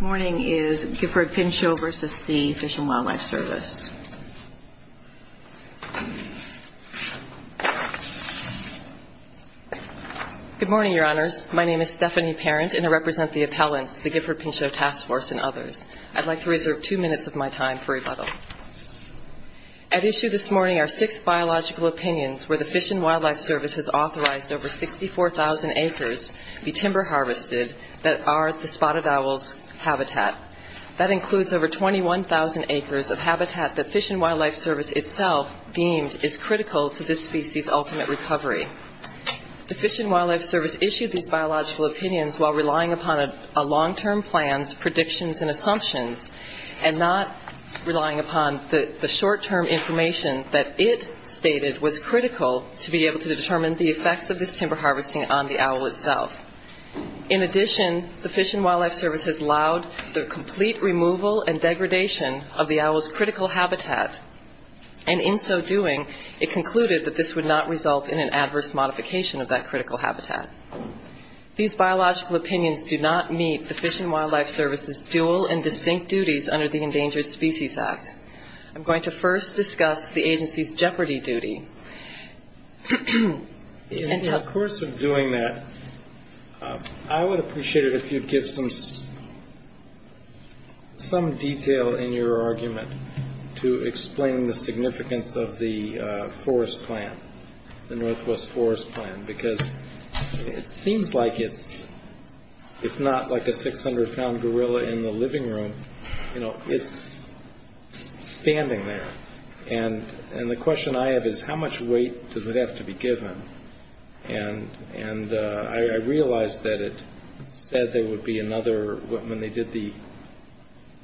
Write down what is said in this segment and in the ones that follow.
morning is Gifford Pinchot v. The Fish and Wildlife Service. Stephanie Parent Good morning, Your Honors. My name is Stephanie Parent, and I represent the appellants, the Gifford Pinchot Task Force and others. I'd like to reserve two minutes of my time for rebuttal. At issue this morning are six biological opinions where the Fish and Wildlife Service has authorized over 64,000 acres be timber harvested that are at the same spot at Owl's habitat. That includes over 21,000 acres of habitat that Fish and Wildlife Service itself deemed is critical to this species' ultimate recovery. The Fish and Wildlife Service issued these biological opinions while relying upon a long-term plan's predictions and assumptions and not relying upon the short-term information that it stated was critical to be able to determine the effects of this timber harvesting on the owl itself. In addition, the Fish and Wildlife Service has allowed the complete removal and degradation of the owl's critical habitat, and in so doing, it concluded that this would not result in an adverse modification of that critical habitat. These biological opinions do not meet the Fish and Wildlife Service's dual and distinct duties under the Endangered Species Act. I'm going to first discuss the agency's jeopardy duty. In the course of doing that, I would appreciate it if you'd give some detail in your argument to explain the significance of the forest plan, the Northwest Forest Plan, because it seems like it's, if not like a 600-pound gorilla in the living room, it's standing there. And the question I have is, how much weight does it have to be given? And I realized that it said there would be another, when they did the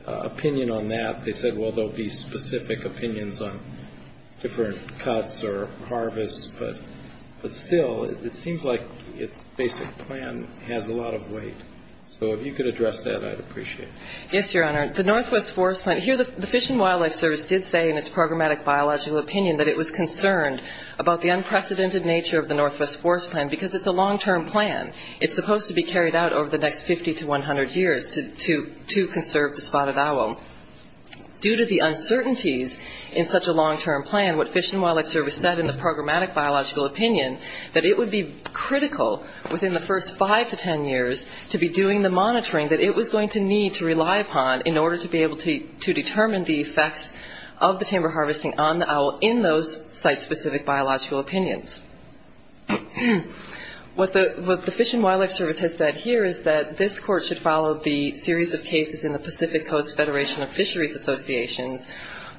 opinion on that, they said, well, there'll be specific opinions on different cuts or harvests, but still, it seems like its basic plan has a lot of weight. So if you could address that, I'd appreciate it. Yes, Your Honor. The Northwest Forest Plan, here the Fish and Wildlife Service did say in its programmatic biological opinion that it was concerned about the unprecedented nature of the Northwest Forest Plan, because it's a long-term plan. It's supposed to be carried out over the next 50 to 100 years to conserve the spotted owl. Due to the uncertainties in such a long-term plan, what Fish and Wildlife Service said in the programmatic biological opinion, that it would be critical within the first five to ten years to be doing the monitoring that it was going to need to rely upon in order to be able to determine the effects of the timber harvesting on the owl in those site-specific biological opinions. What the Fish and Wildlife Service has said here is that this court should follow the series of cases in the Pacific Coast Federation of Fisheries Associations,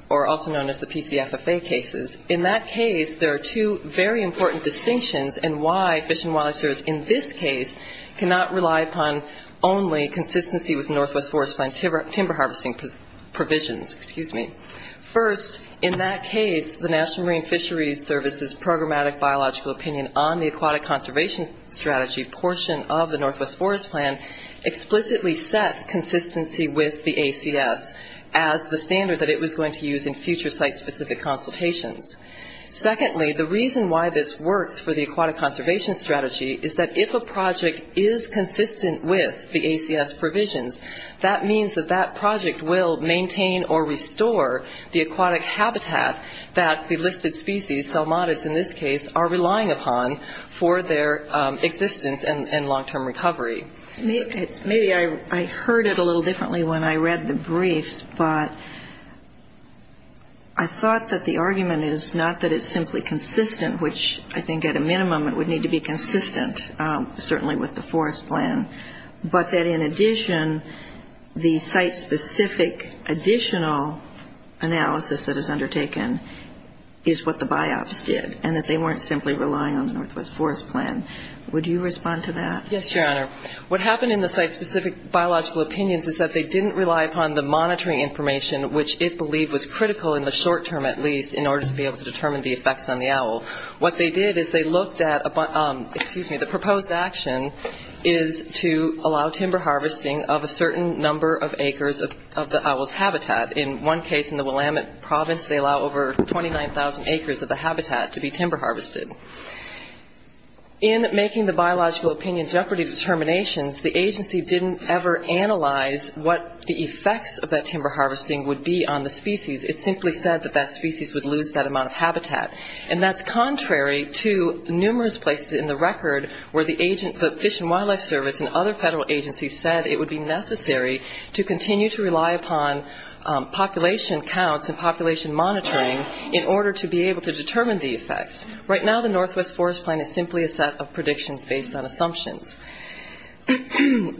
or also known as the PCFFA cases. In that case, there are two very important distinctions in why the Fish and Wildlife Service in this case cannot rely upon only consistency with Northwest Forest Plan timber harvesting provisions. First, in that case, the National Marine Fisheries Service's programmatic biological opinion on the aquatic conservation strategy portion of the Northwest Forest Plan explicitly set consistency with the ACS as the standard that it was going to use in future site-specific consultations. Secondly, the reason why this works for the aquatic conservation strategy is that if a project is consistent with the ACS provisions, that means that that project will maintain or restore the aquatic habitat that the listed species, Selmatids in this case, are relying upon for their existence and long-term recovery. Maybe I heard it a little differently when I read the briefs, but I thought that the argument is not that it's simply consistent, which I think at a minimum it would need to be consistent, certainly with the Forest Plan, but that in addition, the site-specific additional analysis that is undertaken is what the BIOPS did, and that they weren't simply relying on the Northwest Forest Plan. Would you respond to that? Yes, Your Honor. What happened in the site-specific biological opinions is that they didn't rely upon the monitoring information, what they did is they looked at, excuse me, the proposed action is to allow timber harvesting of a certain number of acres of the owl's habitat. In one case, in the Willamette province, they allow over 29,000 acres of the habitat to be timber harvested. In making the biological opinion jeopardy determinations, the agency didn't ever analyze what the effects of that timber harvesting would be on the species. It simply said that that species would lose that amount of habitat. And that's contrary to what the numerous places in the record where the Fish and Wildlife Service and other federal agencies said it would be necessary to continue to rely upon population counts and population monitoring in order to be able to determine the effects. Right now, the Northwest Forest Plan is simply a set of predictions based on assumptions.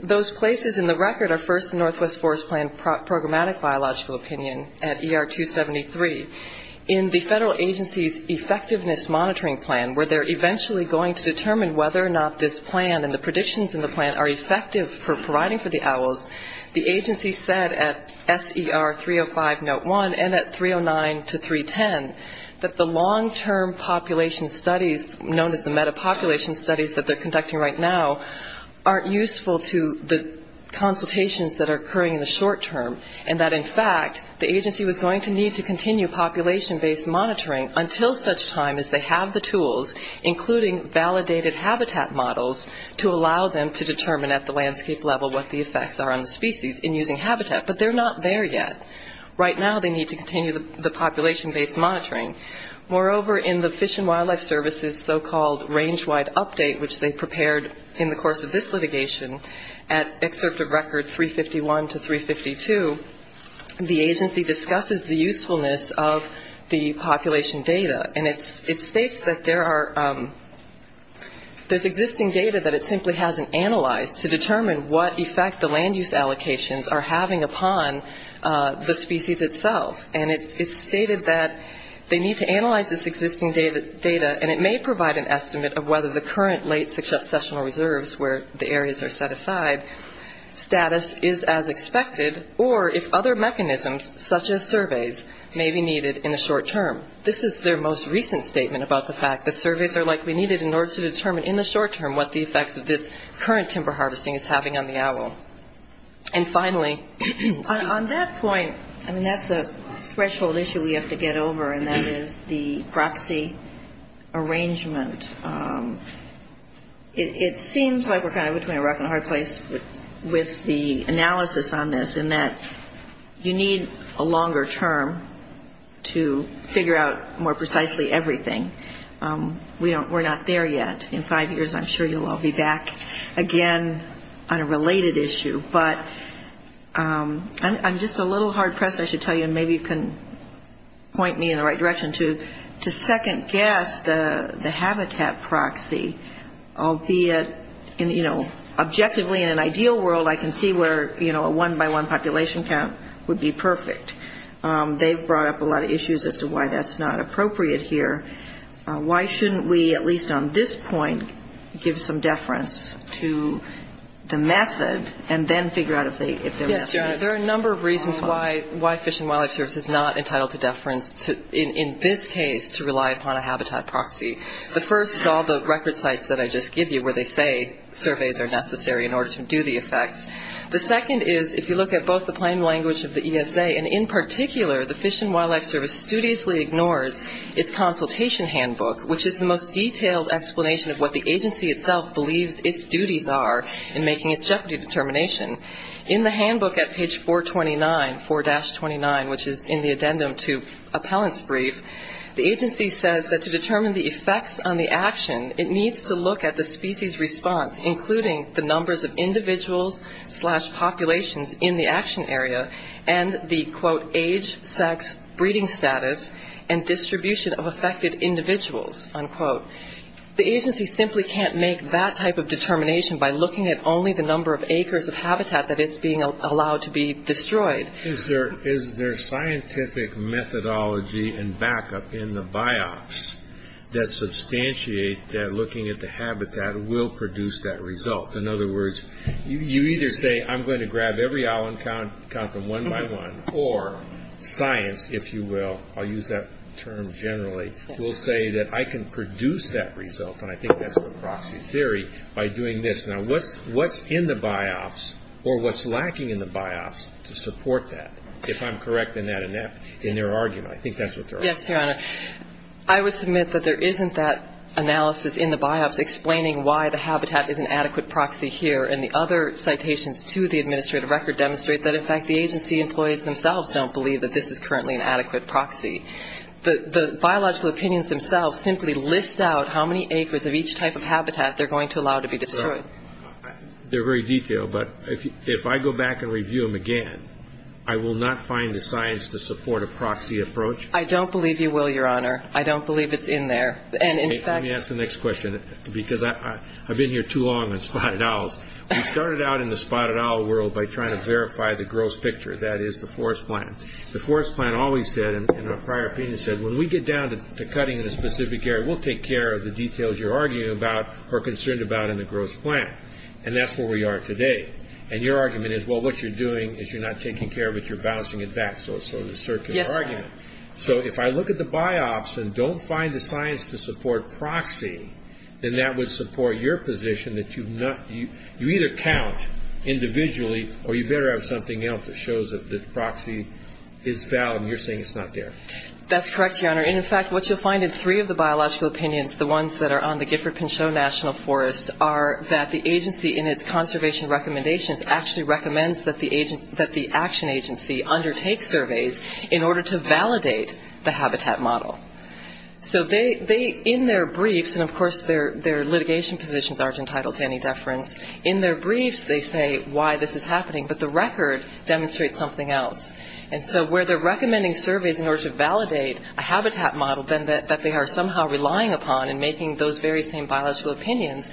Those places in the record are, first, the Northwest Forest Plan Programmatic Biological Opinion at ER 273. In the federal agency's Effectiveness Monitoring Act, which is a set of predictions based on assumptions based on assumptions based on a population monitoring plan, where they're eventually going to determine whether or not this plan and the predictions in the plan are effective for providing for the owls, the agency said at SER 305 Note 1 and at 309 to 310 that the long-term population studies, known as the metapopulation studies that they're conducting right now, aren't useful to the consultations that are occurring in the short term, and that, in fact, the agency was going to need to use other tools, including validated habitat models, to allow them to determine at the landscape level what the effects are on the species in using habitat. But they're not there yet. Right now, they need to continue the population-based monitoring. Moreover, in the Fish and Wildlife Service's so-called range-wide update, which they prepared in the course of this litigation, at Excerptive Record 351 to 352, the agency discusses the usefulness of the population data, and it states that there is a range-wide update and that there's existing data that it simply hasn't analyzed to determine what effect the land-use allocations are having upon the species itself. And it stated that they need to analyze this existing data, and it may provide an estimate of whether the current late successional reserves, where the areas are set aside, status is as expected, or if other mechanisms, such as surveys, may be needed in order to determine, in the short term, what the effects of this current timber harvesting is having on the owl. And finally, on that point, I mean, that's a threshold issue we have to get over, and that is the proxy arrangement. It seems like we're kind of between a rock and a hard place with the analysis on this, in that you need a longer term to figure out more than one population count. We're not there yet. In five years, I'm sure you'll all be back again on a related issue. But I'm just a little hard pressed, I should tell you, and maybe you can point me in the right direction, to second-guess the habitat proxy, albeit, you know, objectively, in an ideal world, I can see where, you know, a one-by-one population count would be perfect. They've brought up a lot of issues as to why that's not appropriate here. Why shouldn't we, at least on this point, give some deference to the method, and then figure out if there was some use? Yes, your Honor, there are a number of reasons why Fish and Wildlife Service is not entitled to deference, in this case, to rely upon a habitat proxy. The first is all the record sites that I just gave you, where they say surveys are necessary in order to do the work. The second is all the record sites that I just gave you, where they say surveys are necessary in order to do the work. The third is they say, and in particular, the Fish and Wildlife Service studiously ignores its consultation handbook, which is the most detailed explanation of what the agency itself believes its duties are in making its jeopardy determination. In the handbook at page 429, 4-29, which is in the addendum to appellant's brief, the agency says that to determine the effects on the action, it needs to look at the species response, including the numbers of individuals slash populations in the action area, and the, quote, age, sex, breeding status, and distribution of affected individuals, unquote. The agency simply can't make that type of determination by looking at only the number of acres of habitat that it's being allowed to be destroyed. There's a specific methodology and backup in the BIOS that substantiate that looking at the habitat will produce that result. In other words, you either say, I'm going to grab every island and count them one by one, or science, if you will, I'll use that term generally, will say that I can produce that result, and I think that's the proxy theory, by doing this. Now, what's in the BIOS, or what's lacking in the BIOS to support that, if I'm correct in that in their argument? I think that's what they're arguing. Yes, Your Honor. I would submit that there isn't that analysis in the BIOS explaining why the habitat is an adequate proxy here, and the other citations to the administrative record demonstrate that, in fact, the agency employees themselves don't believe that this is currently an adequate proxy. The biological opinions themselves simply list out how many acres of each type of habitat they're going to have, and then review them again. I will not find the science to support a proxy approach. I don't believe you will, Your Honor. I don't believe it's in there. Let me ask the next question, because I've been here too long on spotted owls. We started out in the spotted owl world by trying to verify the gross picture, that is, the forest plan. The forest plan always said, in a prior opinion, said, when we get down to cutting in a specific area, we'll take care of the details you're arguing about or concerned about in the gross plan, and that's where we are today. And your argument is, well, what you're doing is you're not taking care of it. You're bouncing it back. So it's sort of a circular argument. So if I look at the BIOS and don't find the science to support proxy, then that would support your position that you either count individually, or you better have something else that shows that the proxy is valid, and you're saying it's not there. That's correct, Your Honor. In fact, what you'll find in three of the biological opinions, the ones that are on the Gifford-Pinchot National Forest, are that the agency, in its conservation recommendations, actually recommends that the action agency undertake surveys in order to validate the habitat model. So in their briefs, and of course their litigation positions aren't entitled to any deference, in their briefs they say why this is happening, but the record demonstrates something else. And so where they're recommending surveys in order to validate a habitat model that they are somehow relying upon in making those very same biological opinions,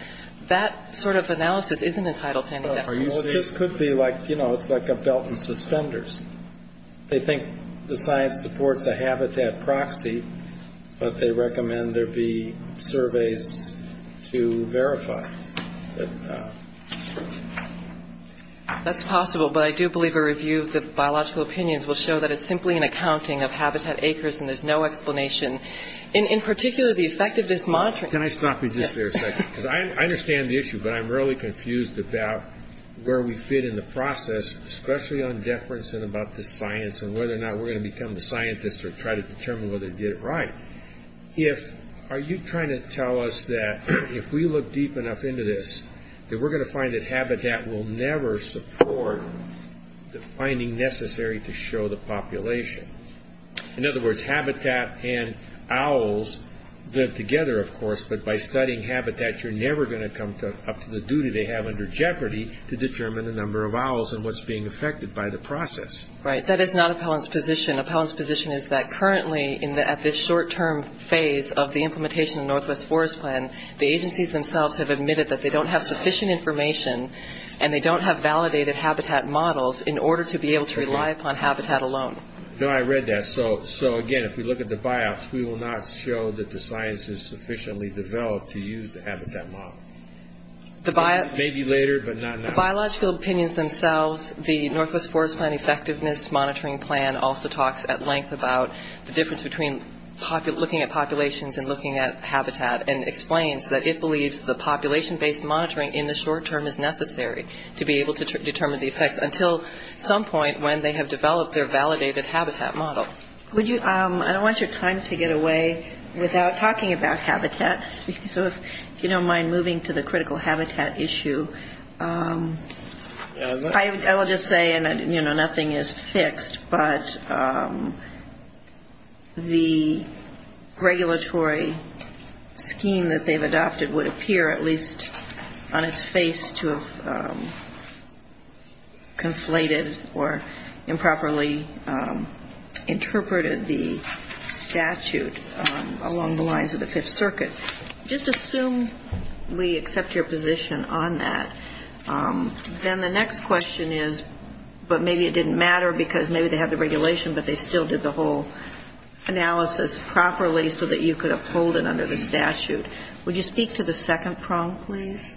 that sort of analysis isn't entitled to any deference. This could be like, you know, it's like a belt and suspenders. They think the science supports a habitat proxy, but they recommend there be surveys to verify. That's possible, but I do believe a review of the biological opinions will show that it's simply an accounting of habitat acres and there's no explanation, in particular the effect of this monitoring. Can I stop you just there a second? Because I understand the issue, but I'm really confused about where we fit in the process, especially on deference and about the science and whether or not we're going to become scientists or try to determine whether they did it right. Are you trying to tell us that if we look deep enough into this, that we're going to find that habitat will never support the study? In other words, habitat and owls live together, of course, but by studying habitat, you're never going to come up to the duty they have under Jeopardy to determine the number of owls and what's being affected by the process. Right. That is not Appellant's position. Appellant's position is that currently at this short-term phase of the implementation of Northwest Forest Plan, the agencies themselves have admitted that they don't have sufficient information and they don't have validated habitat models in order to be able to rely upon habitat alone. No, I read that. So again, if we look at the biops, we will not show that the science is sufficiently developed to use the habitat model. Maybe later, but not now. The biological opinions themselves, the Northwest Forest Plan effectiveness monitoring plan also talks at length about the difference between looking at populations and looking at habitat and explains that it believes the population-based monitoring in the short-term is necessary to be able to determine the effects until some point when they have developed their validated habitat model. I don't want your time to get away without talking about habitat. So if you don't mind moving to the critical habitat issue. I will just say, and nothing is fixed, but the regulatory scheme that they've adopted would appear at least on its face to have conflated or improperly interpreted the statute along the lines of the Fifth Circuit. Just assume we accept your position on that. Then the next question is, but maybe it didn't matter because maybe they have the regulation, but they still did the whole analysis properly so that you could uphold it under the statute. Would you speak to the second prong, please?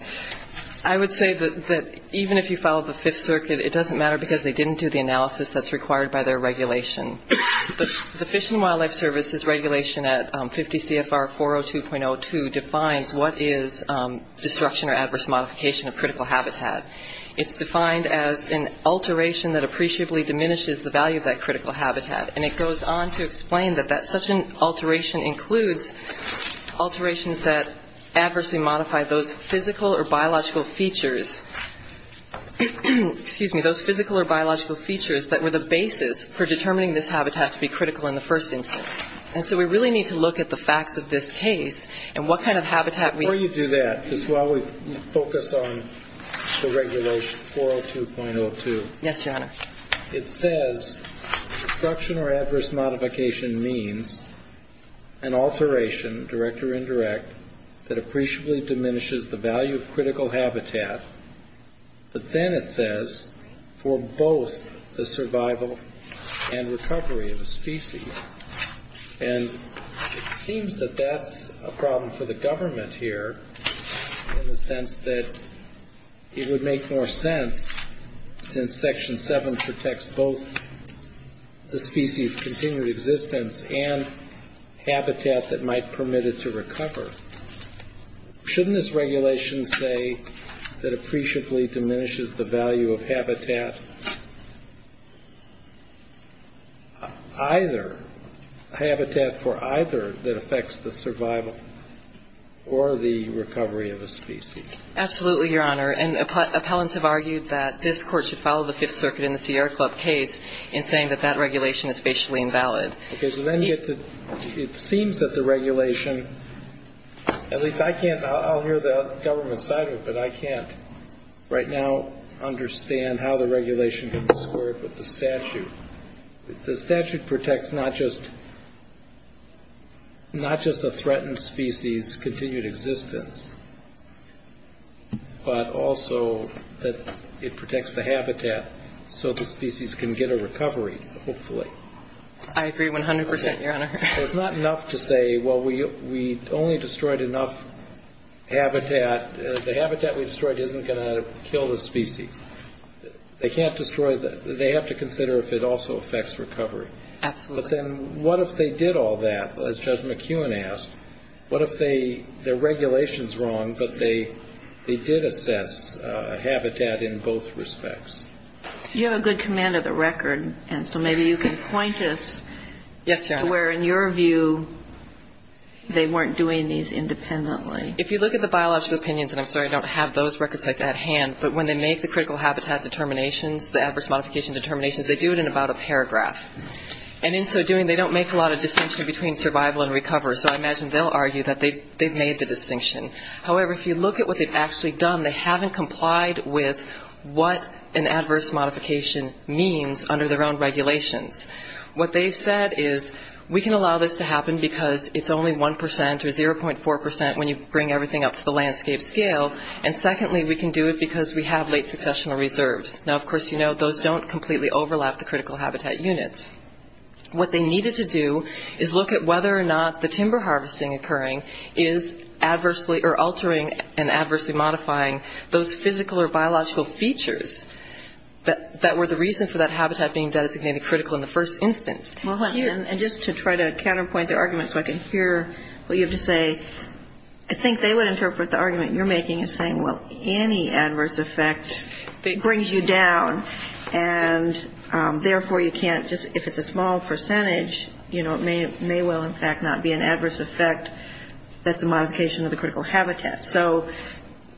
I would say that even if you follow the Fifth Circuit, it doesn't matter because they didn't do the analysis that's required by their regulation. The Fish and Wildlife Service's regulation at 50 CFR 402.02 defines what is destruction or adverse modification of critical habitat. It's defined as an alteration that appreciably diminishes the value of that critical habitat. And it goes on to explain that such an alteration includes alterations that adversely modify those physical, biological, biological, biological, biological, biological features, excuse me, those physical or biological features that were the basis for determining this habitat to be critical in the first instance. And so we really need to look at the facts of this case and what kind of habitat we Before you do that, just while we focus on the regulation 402.02. Yes, Your Honor. It says destruction or adverse modification means an alteration, direct or indirect, that appreciably diminishes the value of critical habitat. But then it says for both the survival and recovery of a species. And it seems that that's a problem for the government here in the sense that it would make more sense since Section 7.1 of the Fish and Wildlife Service would require that the government protect both the species' continued existence and habitat that might permit it to recover. Shouldn't this regulation say that appreciably diminishes the value of habitat either, habitat for either that affects the survival or the recovery of a species? Absolutely, Your Honor. And appellants have argued that this Court should follow the Fifth Circuit in the Sierra Club case in saying that that regulation is facially invalid. Okay. So then you get to, it seems that the regulation, at least I can't, I'll hear the government side of it, but I can't right now understand how the regulation can be squared with the statute. The statute protects not just, not just a threatened species' continued existence, but also that it protects the habitat so the species can get a recovery, hopefully. I agree 100 percent, Your Honor. So it's not enough to say, well, we only destroyed enough habitat. The habitat we destroyed isn't going to kill the species. They can't destroy, they have to consider if it also affects recovery. Absolutely. But then what if they did all that, as Judge McEwen asked? What if the regulation's wrong, but they did assess habitat in both respects? You have a good command of the record, and so maybe you can point us to where, in your view, they weren't doing these independently. If you look at the biological opinions, and I'm sorry I don't have those record sites at hand, but when they make the critical habitat units, and in so doing, they don't make a lot of distinction between survival and recovery, so I imagine they'll argue that they've made the distinction. However, if you look at what they've actually done, they haven't complied with what an adverse modification means under their own regulations. What they said is, we can allow this to happen because it's only 1 percent or 0.4 percent when you bring everything up to the landscape scale, and secondly, we can do it because we have late successional reserves. Now, of course, you know, those don't completely overlap the critical habitat units. What they needed to do is look at whether or not the timber harvesting occurring is adversely, or altering and adversely modifying those physical or biological features that were the reason for that habitat being designated critical in the first instance. And just to try to counterpoint their argument so I can hear what you have to say, I think they would interpret the argument you're making as, well, you can't bring down, and therefore you can't just, if it's a small percentage, you know, it may well, in fact, not be an adverse effect that's a modification of the critical habitat. So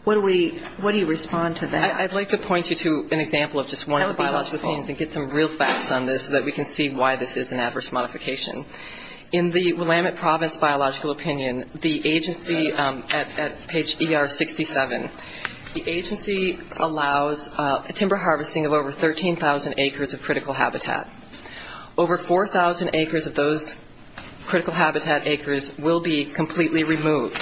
what do we, what do you respond to that? I'd like to point you to an example of just one of the biological opinions and get some real facts on this so that we can see why this is an adverse modification. In the Willamette Province biological opinion, the agency at page ER67, the agency allows a timber harvester to do timber harvesting of over 13,000 acres of critical habitat. Over 4,000 acres of those critical habitat acres will be completely removed.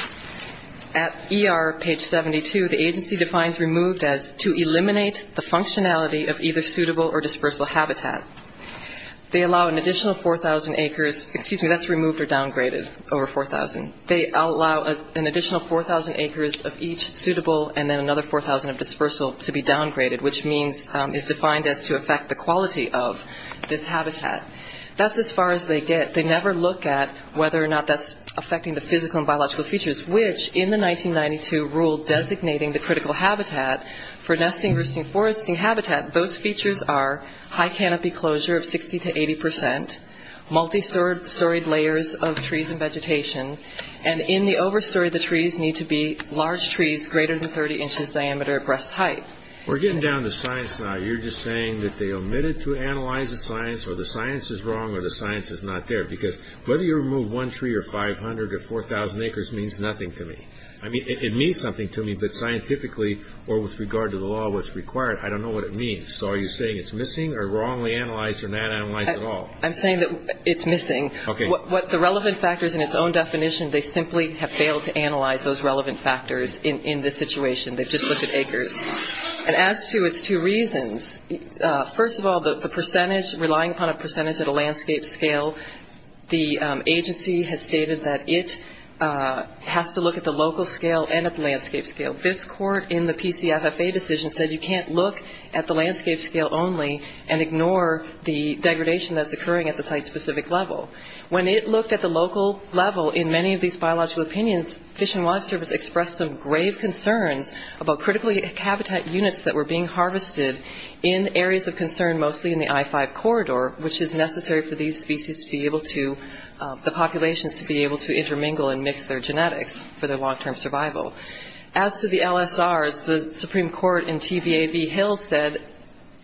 At ER page 72, the agency defines removed as to eliminate the functionality of either suitable or dispersal habitat. They allow an additional 4,000 acres, excuse me, that's removed or downgraded, over 4,000. They allow an additional 4,000 acres of each suitable and then another 4,000 of dispersal to be downgraded, which means, is defined as to affect the quality of this habitat. That's as far as they get. They never look at whether or not that's affecting the physical and biological features, which in the 1992 rule designating the critical habitat for nesting, roosting, foresting habitat, those features are high canopy closure of 60 to 80 percent, multi-storied layers of trees and vegetation, and in the overstory, the trees need to be large trees greater than 30 inches in diameter. We're getting down to science now. You're just saying that they omitted to analyze the science or the science is wrong or the science is not there, because whether you remove one tree or 500 or 4,000 acres means nothing to me. I mean, it means something to me, but scientifically or with regard to the law, what's required, I don't know what it means. So are you saying it's missing or wrongly analyzed or not analyzed at all? I'm saying that it's missing. The relevant factors in its own definition, they simply have failed to analyze those relevant factors in this situation. They've just looked at acres. And as to its two reasons, first of all, the percentage, relying upon a percentage at a landscape scale, the agency has stated that it has to look at the local scale and at the landscape scale. This court in the PCFFA decision said you can't look at the landscape scale only and ignore the degradation that's occurring at the site-specific level. When it looked at the local level in many of these biological opinions, Fish and Wildlife Service expressed some grave concern about critically habitat units that were being harvested in areas of concern, mostly in the I-5 corridor, which is necessary for these species to be able to, the populations to be able to intermingle and mix their genetics for their long-term survival. As to the LSRs, the Supreme Court in TVAB Hill said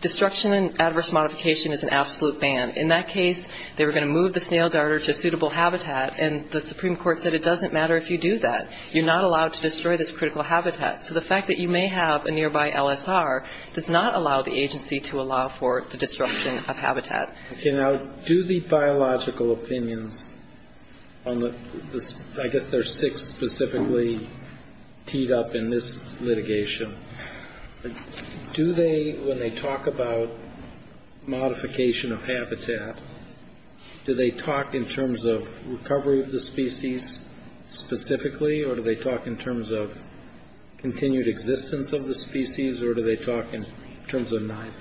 destruction and adverse modification is an absolute ban. In that case, they were going to move the snail garter to suitable habitat, and the Supreme Court said it doesn't matter if you do that. You're not allowed to destroy habitat. So the fact that you may have a nearby LSR does not allow the agency to allow for the destruction of habitat. Okay, now, do the biological opinions on the, I guess there's six specifically teed up in this litigation, do they, when they talk about modification of habitat, do they talk in terms of recovery of the species specifically, or do they talk in terms of continued existence of the species, or do they talk in terms of neither?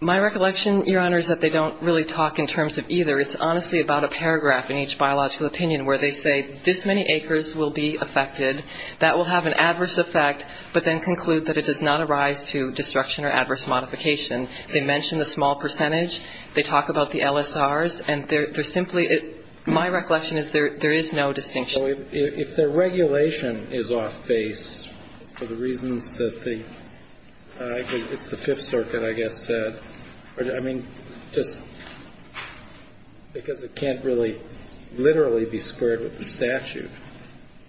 My recollection, Your Honor, is that they don't really talk in terms of either. It's honestly about a paragraph in each biological opinion where they say this many acres will be affected, that will have an adverse effect, but then conclude that it does not arise to destruction or adverse modification. They mention the small percentage, they talk about the LSRs, and they're simply, my recollection is that they don't really talk in terms of either. If the regulation is off base for the reasons that the, it's the Fifth Circuit, I guess, said, I mean, just because it can't really literally be squared with the statute,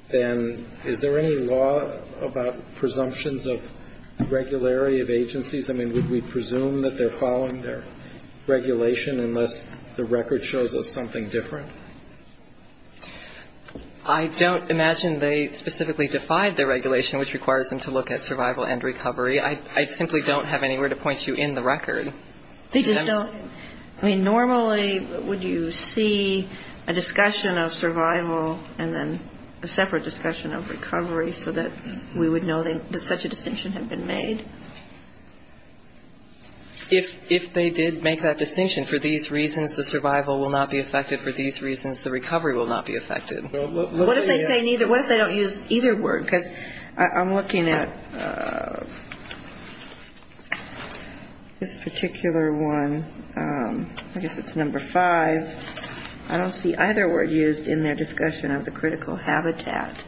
then is there any law about presumptions of regularity of agencies? I mean, would we presume that they're following their regulation unless the record shows us something different? I don't imagine they specifically defied the regulation, which requires them to look at survival and recovery. I simply don't have anywhere to point you in the record. They just don't. I mean, normally would you see a discussion of survival and then a separate discussion of recovery so that we would know that such a distinction had been made? If they did make that distinction, for these reasons the survival will not be affected, for these reasons the recovery will not be affected. What if they don't use either word? Because I'm looking at this particular one. I guess it's number five. I don't see either word used in their discussion of the critical habitat.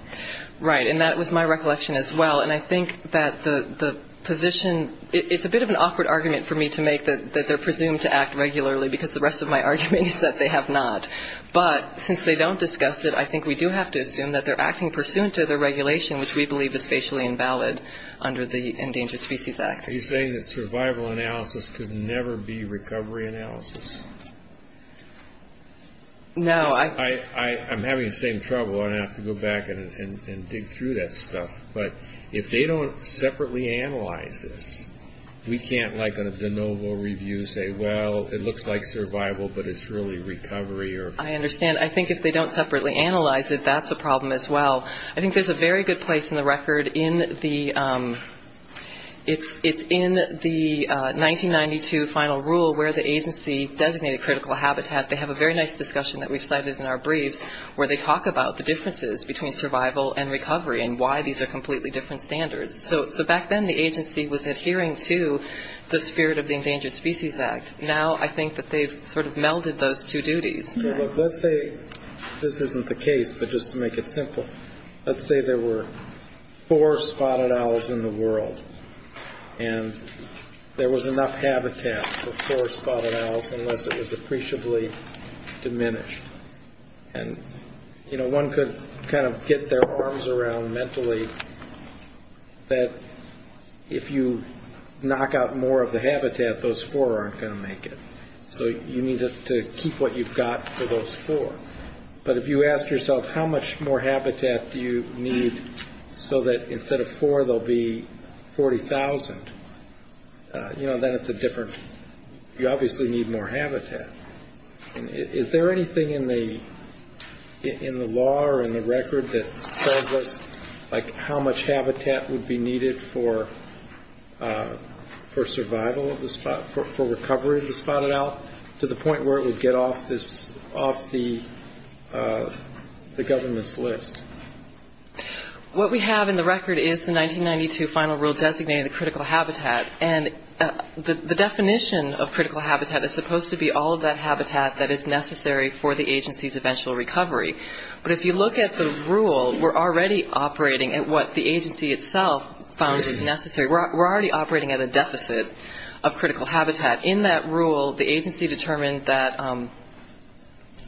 Right. And that was my recollection as well. And I think that the position, it's a bit of an awkward argument for me to make that they're presumed to act regularly because the rest of my argument is that they have not. But since they don't discuss it, I think we do have to assume that they're acting pursuant to their regulation, which we believe is facially invalid under the Endangered Species Act. Are you saying that survival analysis could never be recovery analysis? No. I'm having the same trouble. I'm going to have to go back and dig through that stuff. But if they don't separately analyze this, we can't like on a de novo review say, well, it looks like survival, but it's really recovery or... I understand. I think if they don't separately analyze it, that's a problem as well. I think there's a very good place in the record in the 1992 final rule where the agency designated critical habitat. They have a very nice discussion that we've cited in our briefs where they talk about the differences between survival and recovery and why these are completely different standards. So back then, the agency was adhering to the spirit of the Endangered Species Act. Now, I think that they've sort of melded those two duties. Let's say this isn't the case, but just to make it simple, let's say there were four spotted owls in the area. There were four spotted owls in the world, and there was enough habitat for four spotted owls unless it was appreciably diminished. One could kind of get their arms around mentally that if you knock out more of the habitat, those four aren't going to make it. So you need to keep what you've got for those four. But if you ask yourself, how much more habitat do you need so that instead of four, there'll be 40,000, then it's a different, you obviously need more habitat. Is there anything in the law or in the record that tells us how much habitat would be needed for recovery of the spotted owl to the government's list? What we have in the record is the 1992 final rule designating the critical habitat. And the definition of critical habitat is supposed to be all of that habitat that is necessary for the agency's eventual recovery. But if you look at the rule, we're already operating at what the agency itself found is necessary. We're already operating at a deficit of critical habitat. In that rule, the agency determined that, I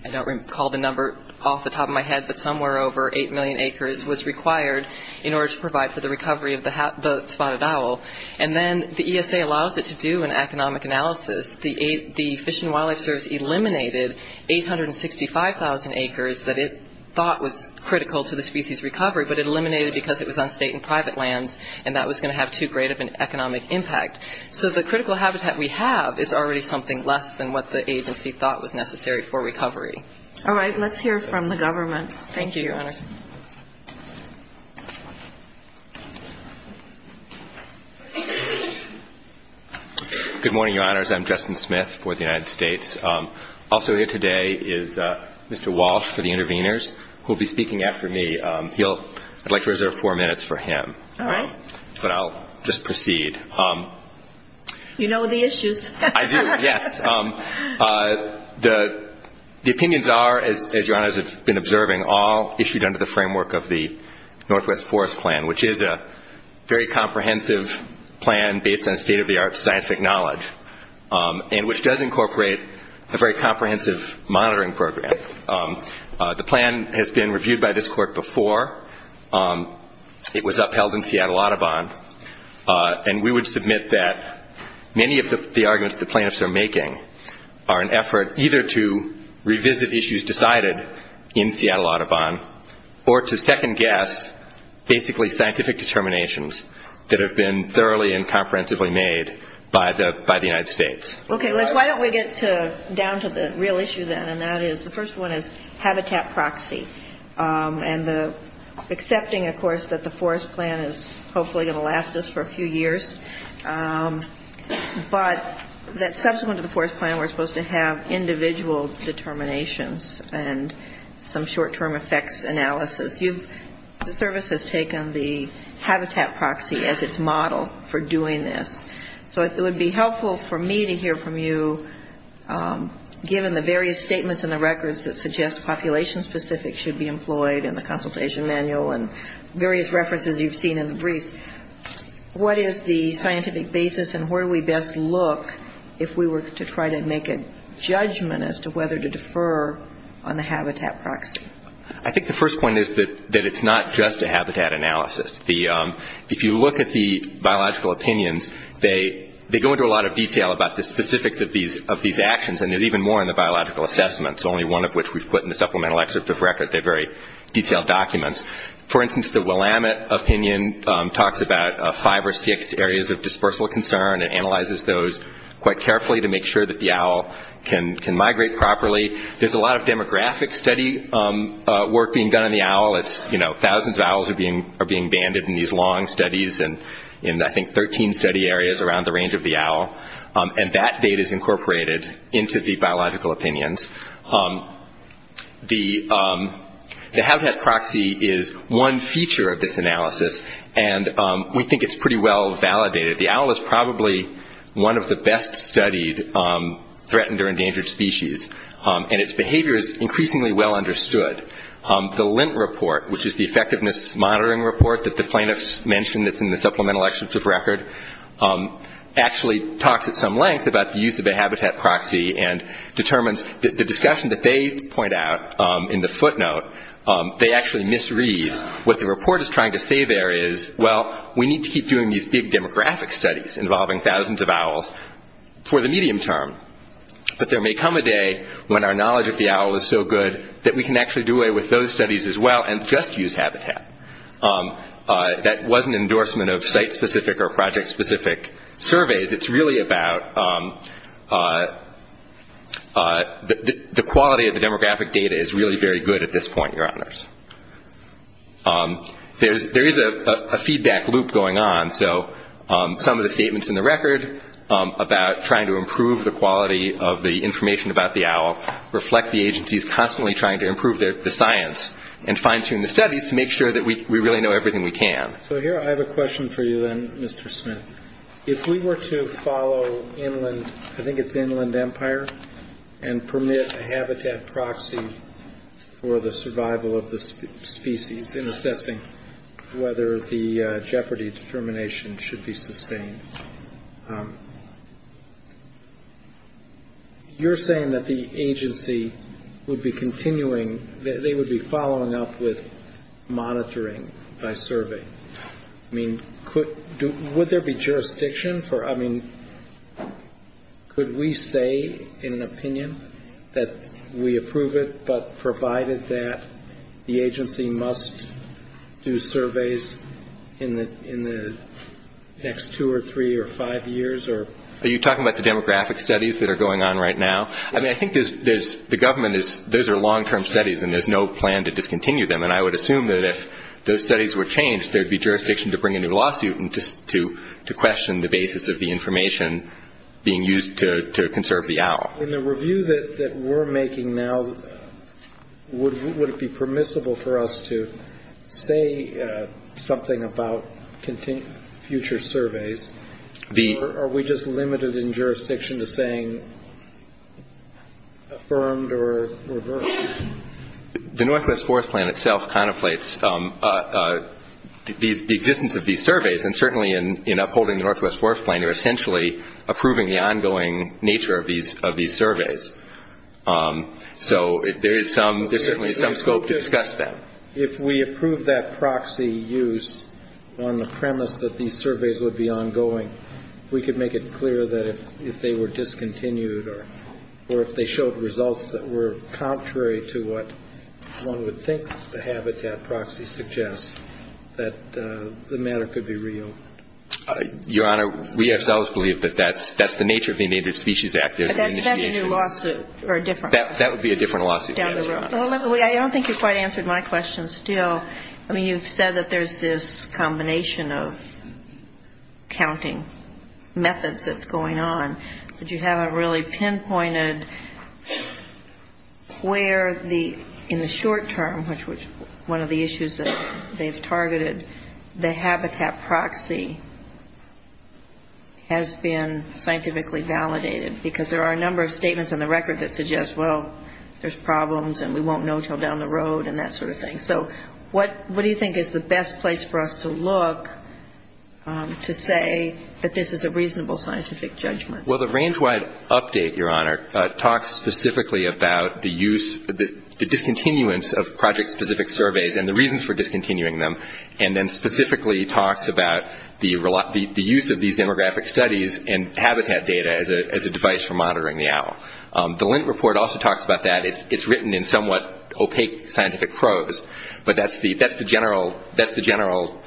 don't recall what the number off the top of my head, but somewhere over 8 million acres was required in order to provide for the recovery of the spotted owl. And then the ESA allows it to do an economic analysis. The Fish and Wildlife Service eliminated 865,000 acres that it thought was critical to the species recovery, but it eliminated because it was on state and private lands and that was going to have too great of an economic impact. So the critical habitat we have is already something less than what the agency thought was necessary for recovery. All right. Let's hear from the government. Thank you, Your Honor. Good morning, Your Honors. I'm Justin Smith for the United States. Also here today is Mr. Walsh for the intervenors, who will be speaking after me. I'd like to reserve four minutes for him. But I'll just proceed. You know the issues. I do, yes. The opinions are, as Your Honors have been observing, all issued under the framework of the Northwest Forest Plan, which is a very comprehensive plan based on state-of-the-art scientific knowledge, and which does incorporate a very comprehensive monitoring program. The plan has been reviewed by this court before. It was upheld in Seattle Audubon. And we would like to hear from you about the findings. I would submit that many of the arguments the plaintiffs are making are an effort either to revisit issues decided in Seattle Audubon, or to second-guess basically scientific determinations that have been thoroughly and comprehensively made by the United States. Okay. Why don't we get down to the real issue then. And that is, the first one is habitat proxy. And accepting, of course, that the forest plan is a model for doing this. But that subsequent to the forest plan we're supposed to have individual determinations and some short-term effects analysis. The service has taken the habitat proxy as its model for doing this. So it would be helpful for me to hear from you, given the various statements in the records that suggest population-specific should be employed in the consultation manual and various references you've seen in the briefs, what is the scientific basis and where do we best look if we were to try to make a judgment as to whether to defer on the habitat proxy? I think the first point is that it's not just a habitat analysis. If you look at the biological opinions, they go into a lot of detail about the specifics of these actions. And there's even more in the biological assessments, only one of which we've put in the manual. The LAMIT opinion talks about five or six areas of dispersal concern and analyzes those quite carefully to make sure that the owl can migrate properly. There's a lot of demographic study work being done on the owl. Thousands of owls are being banded in these long studies in, I think, 13 study areas around the range of the owl. And that data is incorporated into the biological opinions. The habitat proxy is one feature of this analysis, and we think it's pretty well validated. The owl is probably one of the best-studied threatened or endangered species, and its behavior is increasingly well understood. The LENT report, which is the Effectiveness Monitoring Report that the plaintiffs mentioned that's in the Supplemental Extensive Record, actually talks at some length about the use of a habitat proxy and determines that the discussion that they point out in the footnote, they actually misread. What the report is trying to say there is, well, we need to keep doing these big demographic studies involving thousands of owls for the medium term. But there may come a day when our knowledge of the owl is so good that we can actually do away with those studies as well and just use habitat. That wasn't an endorsement of site-specific or project-specific surveys. It's really about how we're going to use the habitat proxy to determine whether or not the quality of the demographic data is really very good at this point, Your Honors. There is a feedback loop going on, so some of the statements in the record about trying to improve the quality of the information about the owl reflect the agencies constantly trying to improve the science and fine-tune the studies to make sure that we really know everything we can. So here, I have a question for you, then, Mr. Smith. If we were to follow inland, I think it's inland data, but inland data, and permit a habitat proxy for the survival of the species in assessing whether the jeopardy determination should be sustained, you're saying that the agency would be continuing, they would be following up with monitoring by survey. I mean, would there be jurisdiction for, I mean, could we say, in an opinion, that we approve it, but provided that the agency must do surveys in the next two or three or five years? Are you talking about the demographic studies that are going on right now? I mean, I think there's, the government is, those are long-term studies, and there's no plan to discontinue them, and I would assume that if those studies were to be continued, there would be jurisdiction to question the basis of the information being used to conserve the owl. In the review that we're making now, would it be permissible for us to say something about future surveys, or are we just limited in jurisdiction to saying affirmed or reversed? The Northwest Forest Plan itself contemplates the existence of these surveys, and certainly in upholding the Northwest Forest Plan, you're essentially approving the ongoing nature of these surveys. So there is some, there's certainly some scope to discuss that. If we approve that proxy use on the premise that these surveys would be ongoing, we could make it clear that if they were discontinued, or if they showed results that were contrary to what one would think the habitat proxy suggests, that the matter could be real. Your Honor, we ourselves believe that that's the nature of the Endangered Species Act. But that's not a new lawsuit, or a different one? That would be a different lawsuit. Well, I don't think you quite answered my question still. I mean, you've said that there's this combination of counting methods that's going on, but you haven't really pinpointed where the, in the short term, which was one of the issues that they've targeted, the habitat proxy has been scientifically validated, because there are a number of statements in the record that suggest, well, there's some problems, and we won't know until down the road, and that sort of thing. So what do you think is the best place for us to look to say that this is a reasonable scientific judgment? Well, the range-wide update, Your Honor, talks specifically about the use, the discontinuance of project-specific surveys and the reasons for discontinuing them, and then specifically talks about the use of these demographic studies and habitat data as a device for the use of habitat data, which is written in somewhat opaque scientific prose, but that's the general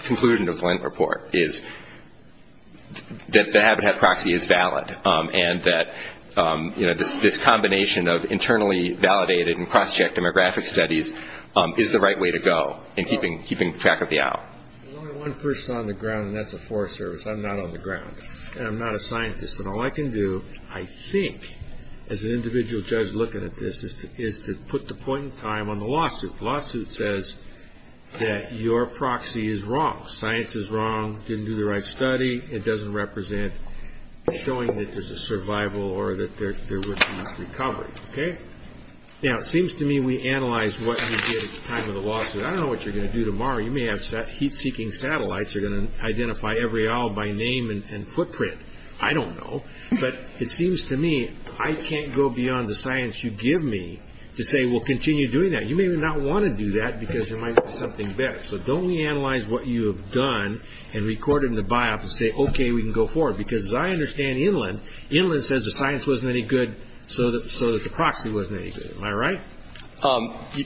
conclusion of the Lent report, is that the habitat proxy is valid, and that this combination of internally validated and cross-checked demographic studies is the right way to go in keeping track of the owl. Well, I'm the one person on the ground, and that's a Forest Service. I'm not on the ground, and I'm not a scientist, and all I can do, I guess, is to put the point in time on the lawsuit. The lawsuit says that your proxy is wrong. Science is wrong. Didn't do the right study. It doesn't represent showing that there's a survival or that there was enough recovery, okay? Now, it seems to me we analyzed what you did at the time of the lawsuit. I don't know what you're going to do tomorrow. You may have heat-seeking satellites. You're going to identify every owl by name and footprint. I don't know, but it seems to me I can't go beyond the science you give me to say, well, continue doing that. You may not want to do that, because there might be something better. So don't we analyze what you have done and record it in the biopsy and say, okay, we can go forward, because as I understand Inland, Inland says the science wasn't any good, so that the proxy wasn't any good. Am I right?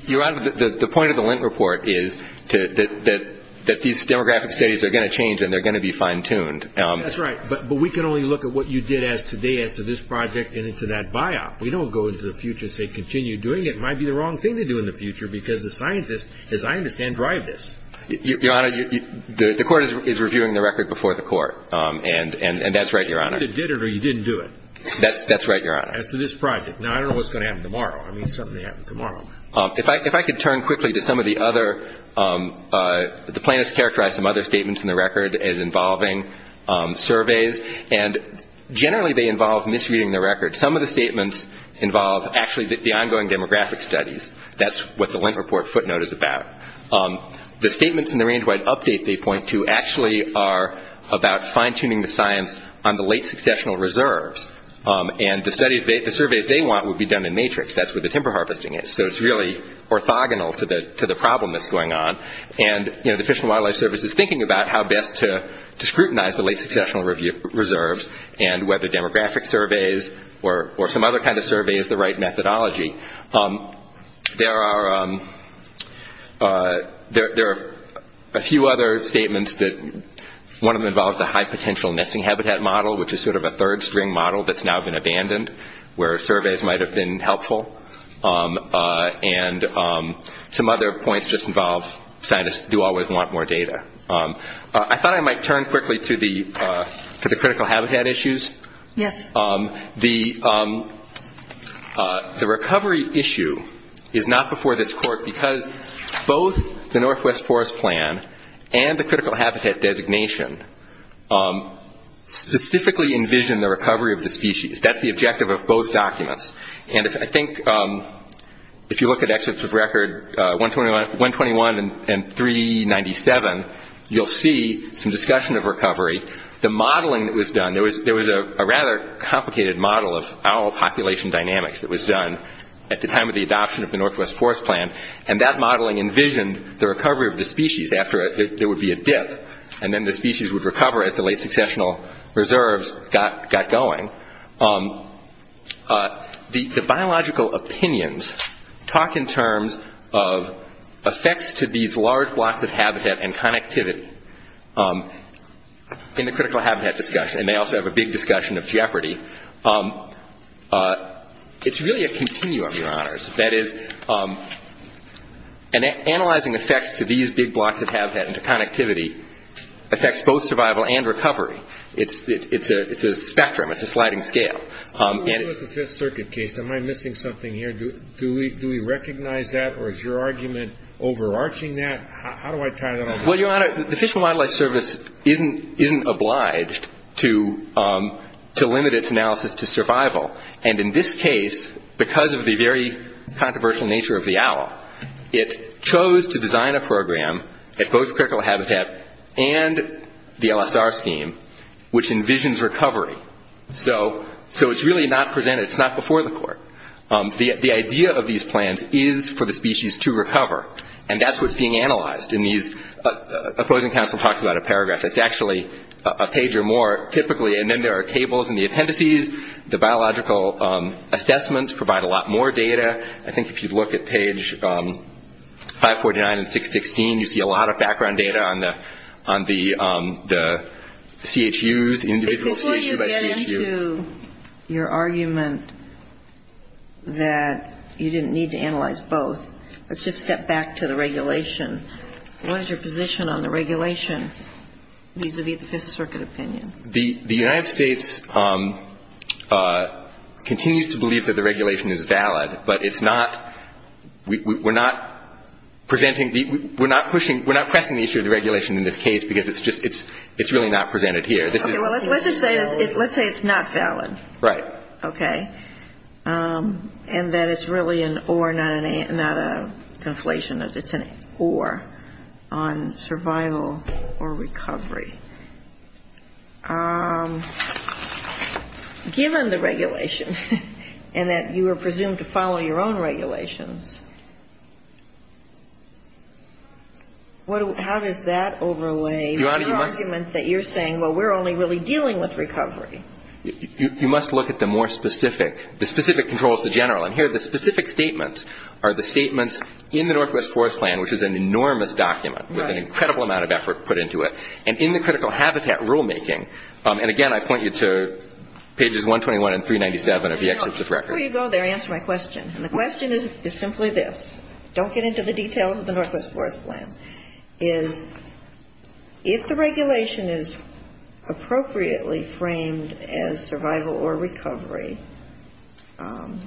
Your Honor, the point of the Lent report is that these demographic studies are going to change, and they're going to be fine-tuned. That's right, but we can only look at what you did today as to this project and into that biop. We don't go into the biop and say, well, this is the future, so continue doing it. It might be the wrong thing to do in the future, because the scientists, as I understand, drive this. Your Honor, the Court is reviewing the record before the Court, and that's right, Your Honor. You either did it or you didn't do it. That's right, Your Honor. As to this project. Now, I don't know what's going to happen tomorrow. I mean, something's going to happen tomorrow. If I could turn quickly to some of the other, the plaintiffs characterized some other statements in the record as involving surveys, and actually the ongoing demographic studies. That's what the Lent report footnote is about. The statements in the range-wide update they point to actually are about fine-tuning the science on the late-successional reserves, and the surveys they want would be done in matrix. That's where the timber harvesting is, so it's really orthogonal to the problem that's going on, and the Fish and Wildlife Service is thinking about how best to scrutinize the late-successional reserves, and whether demographic surveys or some other kind of survey is the right methodology. There are a few other statements that, one of them involves a high-potential nesting habitat model, which is sort of a third-string model that's now been abandoned, where surveys might have been helpful, and some other points just involve scientists do always want more data. I thought I might turn quickly to the critical habitat issues. The recovery issue is not before this court, because both the Northwest Forest Plan and the critical habitat designation specifically envision the recovery of the species. That's the objective of both documents, and I think if you look at excerpts of record 121 and 397, that's the objective of both documents. You'll see some discussion of recovery. The modeling that was done, there was a rather complicated model of owl population dynamics that was done at the time of the adoption of the Northwest Forest Plan, and that modeling envisioned the recovery of the species after there would be a dip, and then the species would recover as the late-successional reserves got going. The biological opinions talk in terms of effects to these large blocks of habitat and connectivity, and I think that's the point. The biological opinions talk about effects to these large blocks of habitat and connectivity in the critical habitat discussion, and they also have a big discussion of jeopardy. It's really a continuum, Your Honors. That is, analyzing effects to these big blocks of habitat and connectivity affects both survival and recovery. It's a spectrum. It's a sliding scale. And it's the Fifth Circuit case. Am I missing something here? Do we recognize that, or is your argument overarching that? How do I tie that in? Well, Your Honor, the Fish and Wildlife Service isn't obliged to limit its analysis to survival, and in this case, because of the very controversial nature of the owl, it chose to design a program at both critical habitat and the LSR scheme, which envisions recovery. So it's really not presented. It's not before the court. The idea of these plans is for the species to recover, and that's what's being analyzed in these opposing counsel talks about a paragraph. It's actually a page or more, typically, and then there are tables in the appendices. The biological assessments provide a lot more data. I think if you look at page 549 and 616, you see a lot of background data on the CHUs, individual CHU by CHU. Before you get into your argument that you didn't need to analyze both, let's just step back a little bit and look at the regulation. What is your position on the regulation vis-a-vis the Fifth Circuit opinion? The United States continues to believe that the regulation is valid, but we're not pressing the issue of the regulation in this case, because it's really not presented here. Okay, well, let's just say it's not valid. Right. Okay. And that it's really an or, not a conflation of it's an or on survival or recovery. Given the regulation and that you are presumed to follow your own regulations, how does that overlay your argument that you're saying, well, we're only really dealing with recovery? You must look at the more specific, the specific controls to general. And here, the specific statements are the statements in the Northwest Forest Plan, which is an enormous document with an incredible amount of effort put into it. And in the critical habitat rulemaking, and again, I point you to pages 121 and 397 of the experts' record. Before you go there, answer my question. And the question is simply this. Don't get into the details of the Northwest Forest Plan. Is if the regulation is appropriately framed as survival or recovery, how does that overlap with the rules of the plan?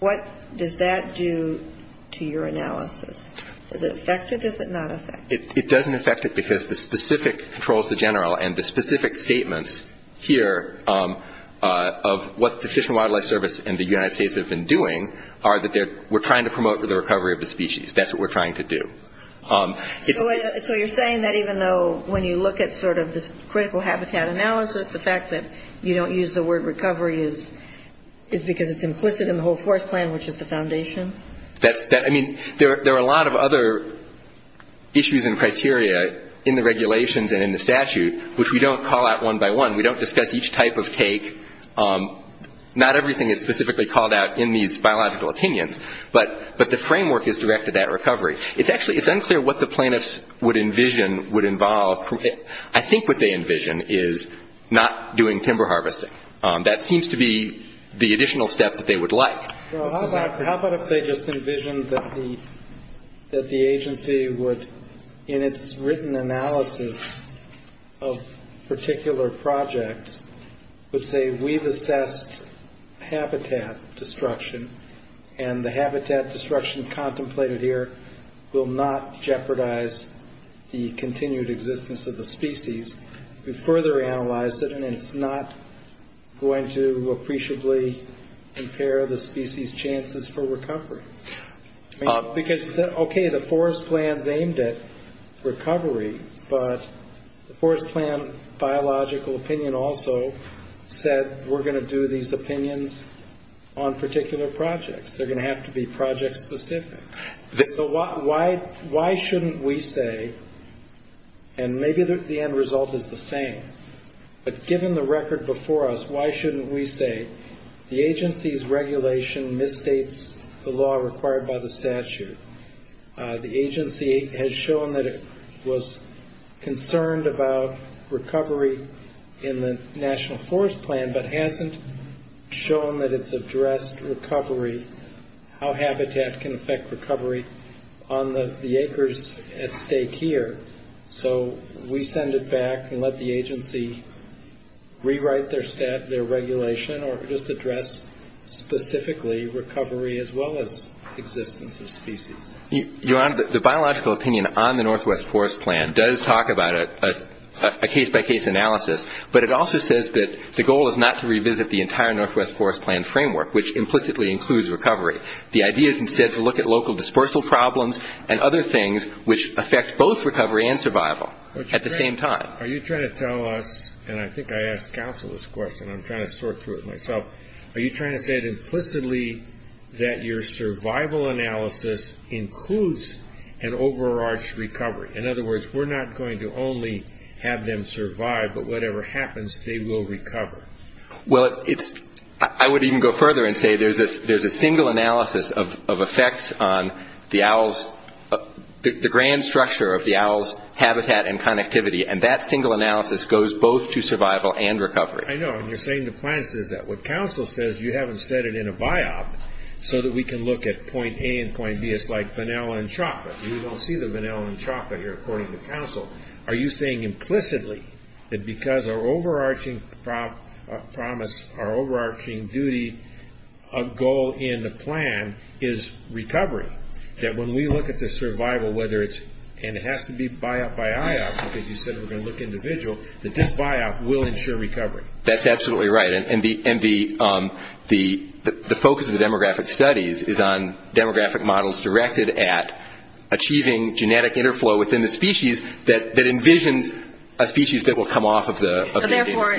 What does that do to your analysis? Does it affect it? Does it not affect it? It doesn't affect it, because the specific controls to general and the specific statements here of what the Fish and Wildlife Service and the United States have been doing are that we're trying to promote the recovery of the species. That's what we're trying to do. So you're saying that even though when you look at sort of this critical habitat analysis, the fact that you don't use the word recovery is because it's implicit in the whole forest plan, which is the foundation? I mean, there are a lot of other issues and criteria in the regulations and in the statute, which we don't call out one by one. We don't discuss each type of take. Not everything is specifically called out in these biological opinions, but the framework is directed at recovery. It's unclear what the planists would envision would involve. I think what they envision is not doing timber harvesting. That seems to be the additional step that they would like. How about if they just envisioned that the agency would, in its written analysis of particular projects, would say, we've assessed habitat destruction, and the habitat destruction contemplated here is not a problem. We'll not jeopardize the continued existence of the species. We've further analyzed it, and it's not going to appreciably impair the species' chances for recovery. Because, okay, the forest plan's aimed at recovery, but the forest plan biological opinion also said, we're going to do these opinions on particular projects. They're going to have to be project specific. So why shouldn't we say, and maybe the end result is the same, but given the record before us, why shouldn't we say, the agency's regulation misstates the law required by the statute. The agency has shown that it was concerned about recovery in the national forest plan, but hasn't shown that it's addressed recovery, how habitat can affect recovery. On the acres at stake here, so we send it back and let the agency rewrite their stat, their regulation, or just address specifically recovery as well as existence of species. The biological opinion on the northwest forest plan does talk about a case-by-case analysis, but it also says that the goal is not to revisit the entire northwest forest plan framework, which implicitly includes recovery. The idea is instead to look at local dispersal problems and other things which affect both recovery and survival at the same time. Are you trying to tell us, and I think I asked counsel this question, I'm trying to sort through it myself, are you trying to say implicitly that your survival analysis includes an overarched recovery? In other words, we're not going to only have them survive, but whatever happens, they will recover. Well, I would even go further and say there's a single analysis of effects on the owl's, the grand structure of the owl's habitat and connectivity, and that single analysis goes both to survival and recovery. I know, and you're saying the plan says that. What counsel says, you haven't set it in a biop so that we can look at point A and point B. It's like vanilla and chocolate. You don't see the vanilla and chocolate here, according to counsel. Are you saying implicitly that because our overarching promise, our overarching duty, a goal in the plan is recovery? That when we look at the survival, whether it's, and it has to be biop by IOP, because you said we're going to look individual, that this biop will ensure recovery? That's absolutely right, and the focus of the demographic studies is on demographic models directed at achieving genetic interflow within the species that envisions a species that will come off of the Indian species. So therefore,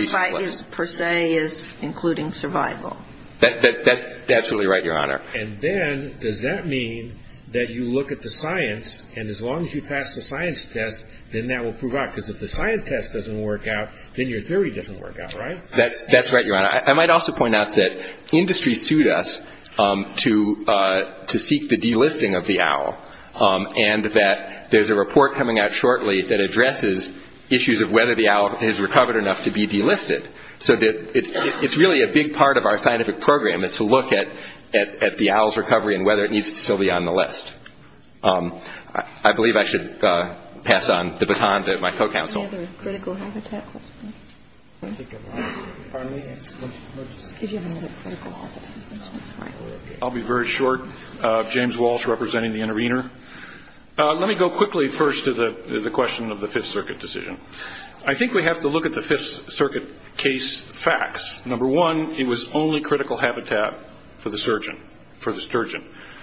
biop per se is including survival? That's absolutely right, Your Honor. And then, does that mean that you look at the science, and as long as you pass the science test, then that will prove out, because if the science test doesn't work out, then your theory doesn't work out, right? That's right, Your Honor. I might also point out that industry sued us to seek the delisting of the owl, and that there's a report coming out shortly that addresses issues of whether the owl has recovered enough to be delisted. So it's really a big part of our scientific program is to look at the owl's recovery and whether it needs to still be on the list. I believe I should pass on the baton to my co-counsel. Pardon me? I'll be very short. James Walsh, representing the Intervenor. Let me go quickly first to the question of the Fifth Circuit decision. I think we have to look at the Fifth Circuit case facts. Number one, it was only critical habitat for the sturgeon.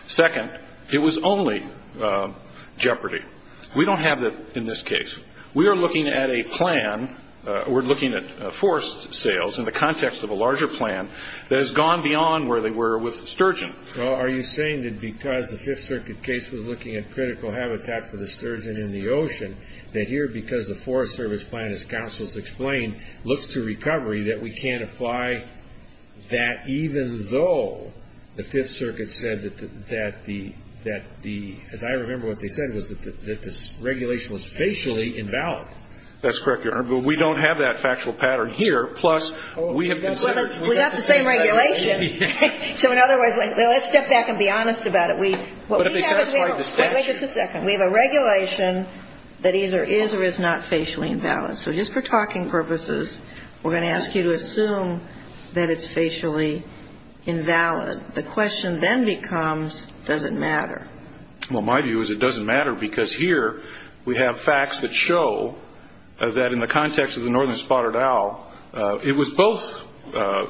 Second, it was only jeopardy. We don't have that in this case. We are looking at a plan. We're looking at forest sales in the context of a larger plan that has gone beyond where they were with sturgeon. Are you saying that because the Fifth Circuit case was looking at critical habitat for the sturgeon in the ocean, that here, because the Forest Service plan, as counsel's explained, looks to recovery, that we can't apply that, even though the Fifth Circuit said that the, as I remember what they said, was that this regulation was facially invalid? That's correct, Your Honor, but we don't have that factual pattern here. We have the same regulation. We have a regulation that either is or is not facially invalid. So just for talking purposes, we're going to ask you to assume that it's facially invalid. The question then becomes, does it matter? Well, my view is it doesn't matter because here we have facts that show that in the context of the northern spotted owl, it was both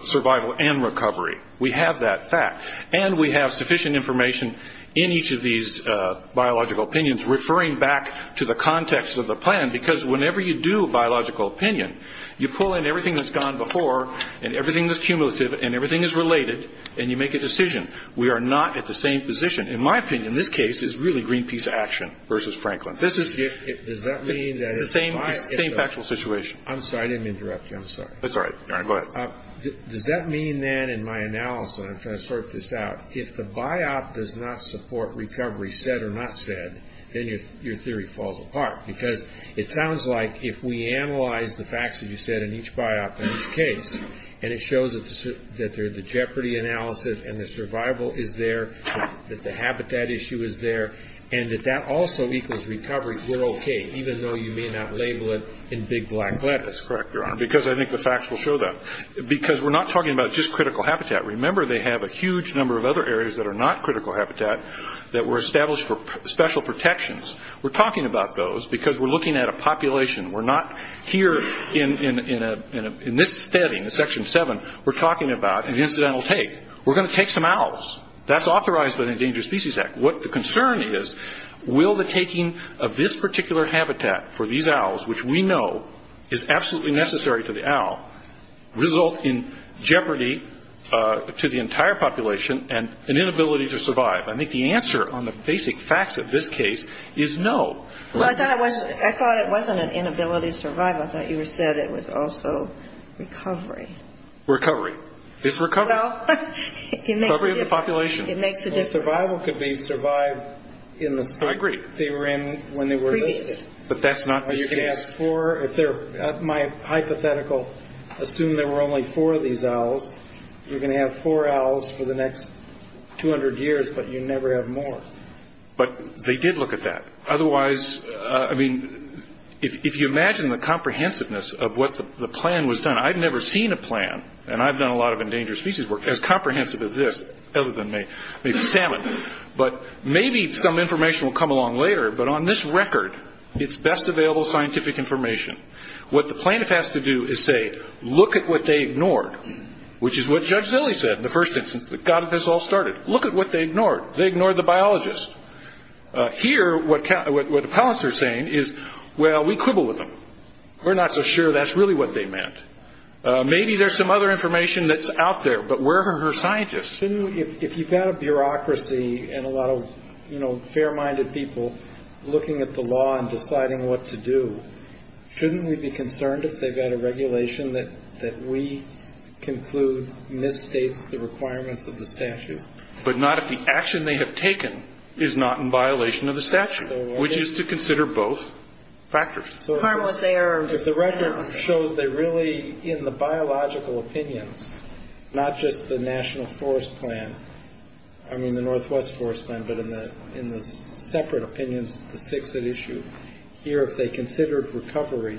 survival and recovery. We have that fact, and we have sufficient information in each of these biological opinions referring back to the context of the plan, because whenever you do a biological opinion, you pull in everything that's gone before, and everything that's cumulative, and everything that's related, and you make a decision. We are not at the same position. In my opinion, this case is really Greenpeace action versus Franklin. It's the same factual situation. I'm sorry. I didn't interrupt you. I'm sorry. Does that mean then in my analysis, and I'm trying to sort this out, if the biop does not support recovery, said or not said, then your theory falls apart? Because it sounds like if we analyze the facts that you said in each biop in each case, and it shows that there's a jeopardy analysis, and the survival is there, that the habitat issue is there, and that that also equals recovery, we're okay, even though you may not label it in big black letters. That's correct, Your Honor, because I think the facts will show that. Because we're not talking about just critical habitat. Remember, they have a huge number of other areas that are not critical habitat that were established for special protections. We're talking about those because we're looking at a population. We're not here in this study, in Section 7, we're talking about an incidental take. We're going to take some owls. That's authorized by the Endangered Species Act. What the concern is, will the taking of this particular habitat for these owls, which we know is absolutely necessary to the owl, result in jeopardy to the entire population and an inability to survive? I think the answer on the basic facts of this case is no. Well, I thought it wasn't an inability to survive. I thought you said it was also recovery. Recovery. It's recovery. Well, it makes a difference. Recovery of the population. It makes a difference. Well, survival could be survived in the state they were in when they were listed. I agree. But that's not the case. You can have four. My hypothetical, assume there were only four of these owls. You're going to have four owls for the next 200 years, but you never have more. But they did look at that. Otherwise, I mean, if you imagine the comprehensiveness of what the plan was done. I've never seen a plan, and I've done a lot of endangered species work, as comprehensive as this, other than maybe salmon. But maybe some information will come along later, but on this record, it's best available scientific information. What the plaintiff has to do is say, look at what they ignored, which is what Judge Zille said in the first instance that got this all started. Look at what they ignored. They ignored the biologist. Here, what the palanster is saying is, well, we quibble with them. We're not so sure that's really what they meant. Maybe there's some other information that's out there, but where are her scientists? If you've got a bureaucracy and a lot of fair-minded people looking at the law and deciding what to do, shouldn't we be concerned if they've got a regulation that we conclude misstates the requirements of the statute? But not if the action they have taken is not in violation of the statute, which is to consider both factors. So if the record shows they really, in the biological opinions, not just the National Forest Plan, I mean the Northwest Forest Plan, but in the separate opinions the six that issue here, if they considered recovery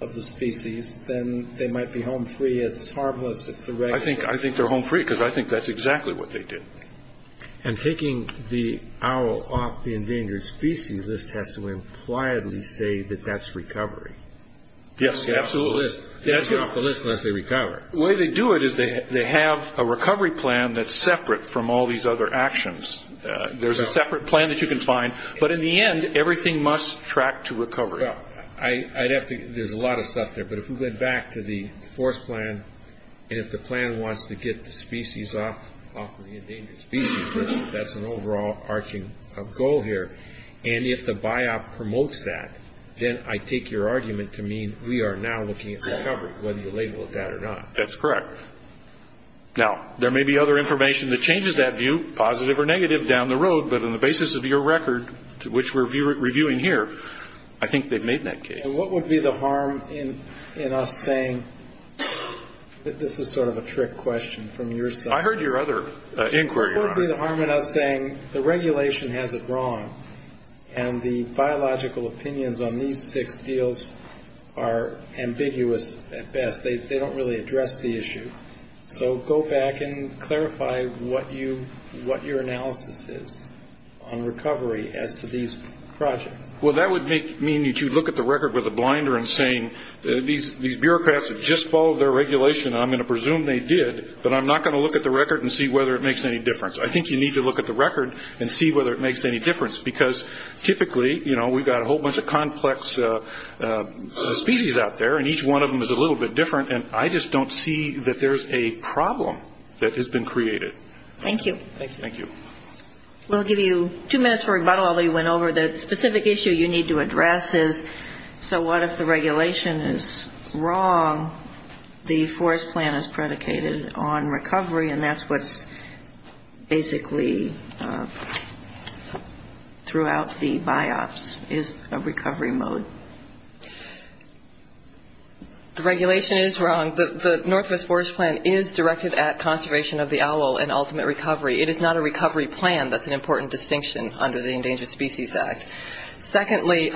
of the species, then they might be home free. It's harmless if the record says that. I think they're home free, because I think that's exactly what they did. And taking the owl off the endangered species, this has to impliedly say that that's recovery. They can't get off the list unless they recover. The way they do it is they have a recovery plan that's separate from all these other actions. There's a separate plan that you can find, but in the end, everything must track to recovery. There's a lot of stuff there, but if we went back to the forest plan, and if the plan wants to get the species off the endangered species, that's an overall arching goal here. And if the BiOp promotes that, then I take your argument to mean we are now looking at recovery, whether you label it that or not. That's correct. Now, there may be other information that changes that view, positive or negative, down the road, but on the basis of your record, which we're reviewing here, I think they've made that case. And what would be the harm in us saying that this is sort of a trick question from your side? I heard your other inquiry. What would be the harm in us saying the regulation has it wrong and the biological opinions on these six deals are ambiguous at best? They don't really address the issue. So go back and clarify what your analysis is on recovery as to these projects. Well, that would mean that you'd look at the record with a blinder and say, these bureaucrats have just followed their regulation and I'm going to presume they did, but I'm not going to look at the record and see whether it makes any difference. I think you need to look at the record and see whether it makes any difference because typically, you know, we've got a whole bunch of complex species out there and each one of them is a little bit different and I just don't see that there's a problem that has been created. Thank you. Thank you. We'll give you two minutes for rebuttal, although you went over the specific issue you need to address is So what if the regulation is wrong? The forest plan is predicated on recovery and that's what's basically throughout the BIOPS is a recovery mode. The regulation is wrong. The Northwest Forest Plan is directed at conservation of the owl and ultimate recovery. It is not a recovery plan. That's an important distinction under the Endangered Species Act. Secondly,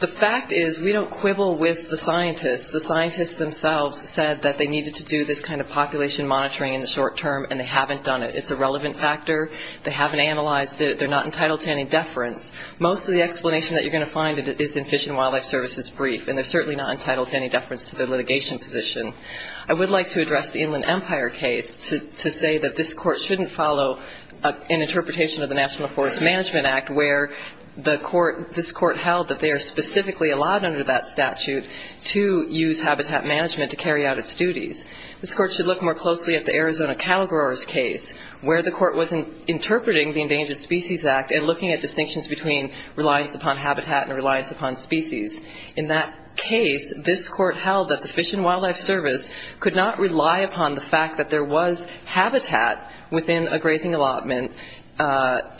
the fact is we don't quibble with the scientists. The scientists themselves said that they needed to do this kind of population monitoring in the short term and they haven't done it. It's a relevant factor. They haven't analyzed it. They're not entitled to any deference. Most of the explanation that you're going to find is in Fish and Wildlife Service's brief and they're certainly not entitled to any deference to their litigation position. I would like to address the Inland Empire case to say that this court shouldn't follow an interpretation of the National Forest Management Act where this court held that they are specifically allowed under that statute to use habitat management to carry out its duties. This court should look more closely at the Arizona cattle growers case where the court was interpreting the Endangered Species Act and looking at distinctions between reliance upon habitat and reliance upon species. In that case, this court held that the Fish and Wildlife Service could not rely upon the fact that there was habitat within a grazing allotment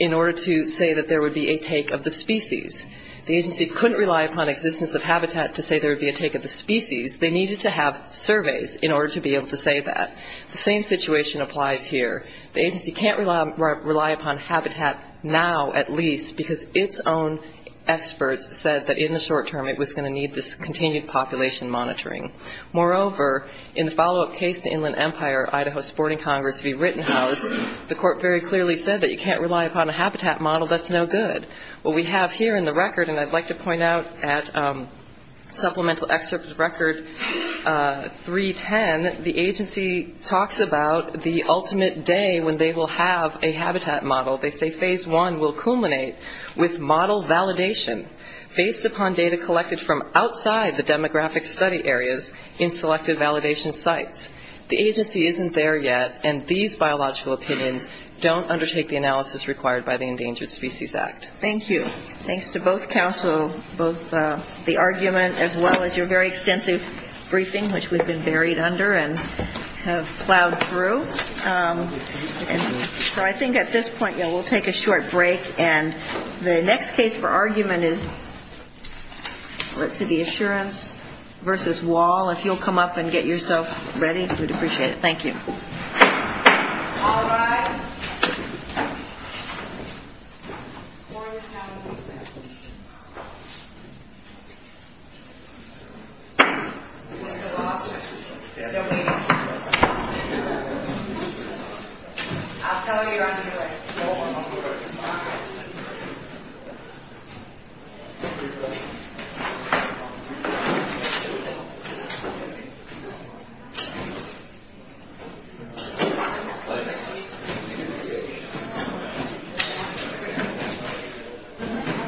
in order to say that there would be a take of the species. The agency couldn't rely upon existence of habitat to say there would be a take of the species. They needed to have surveys in order to be able to say that. The same situation applies here. The agency can't rely upon habitat now at least because its own experts said that in the short term it was going to need this continued population monitoring. Moreover, in the follow-up case to Inland Empire, Idaho Sporting Congress v. Rittenhouse, the court very clearly said that you can't rely upon a habitat model. That's no good. What we have here in the record, and I'd like to point out at supplemental excerpt of record 310, the agency talks about the ultimate day when they will have a habitat model. They say phase one will culminate with model validation based upon data collected from outside the demographic study areas in selected validation sites. The agency isn't there yet, and these biological opinions don't undertake the analysis required by the Endangered Species Act. Thank you. Thanks to both counsel, both the argument as well as your very extensive briefing, which we've been buried under and have plowed through. So I think at this point, yeah, we'll take a short break. And the next case for argument is, let's see, the Assurance v. Wahl. If you'll come up and get yourself ready, we'd appreciate it. Thank you. All rise. The floor is now open. I'll tell you when you're ready. Thank you.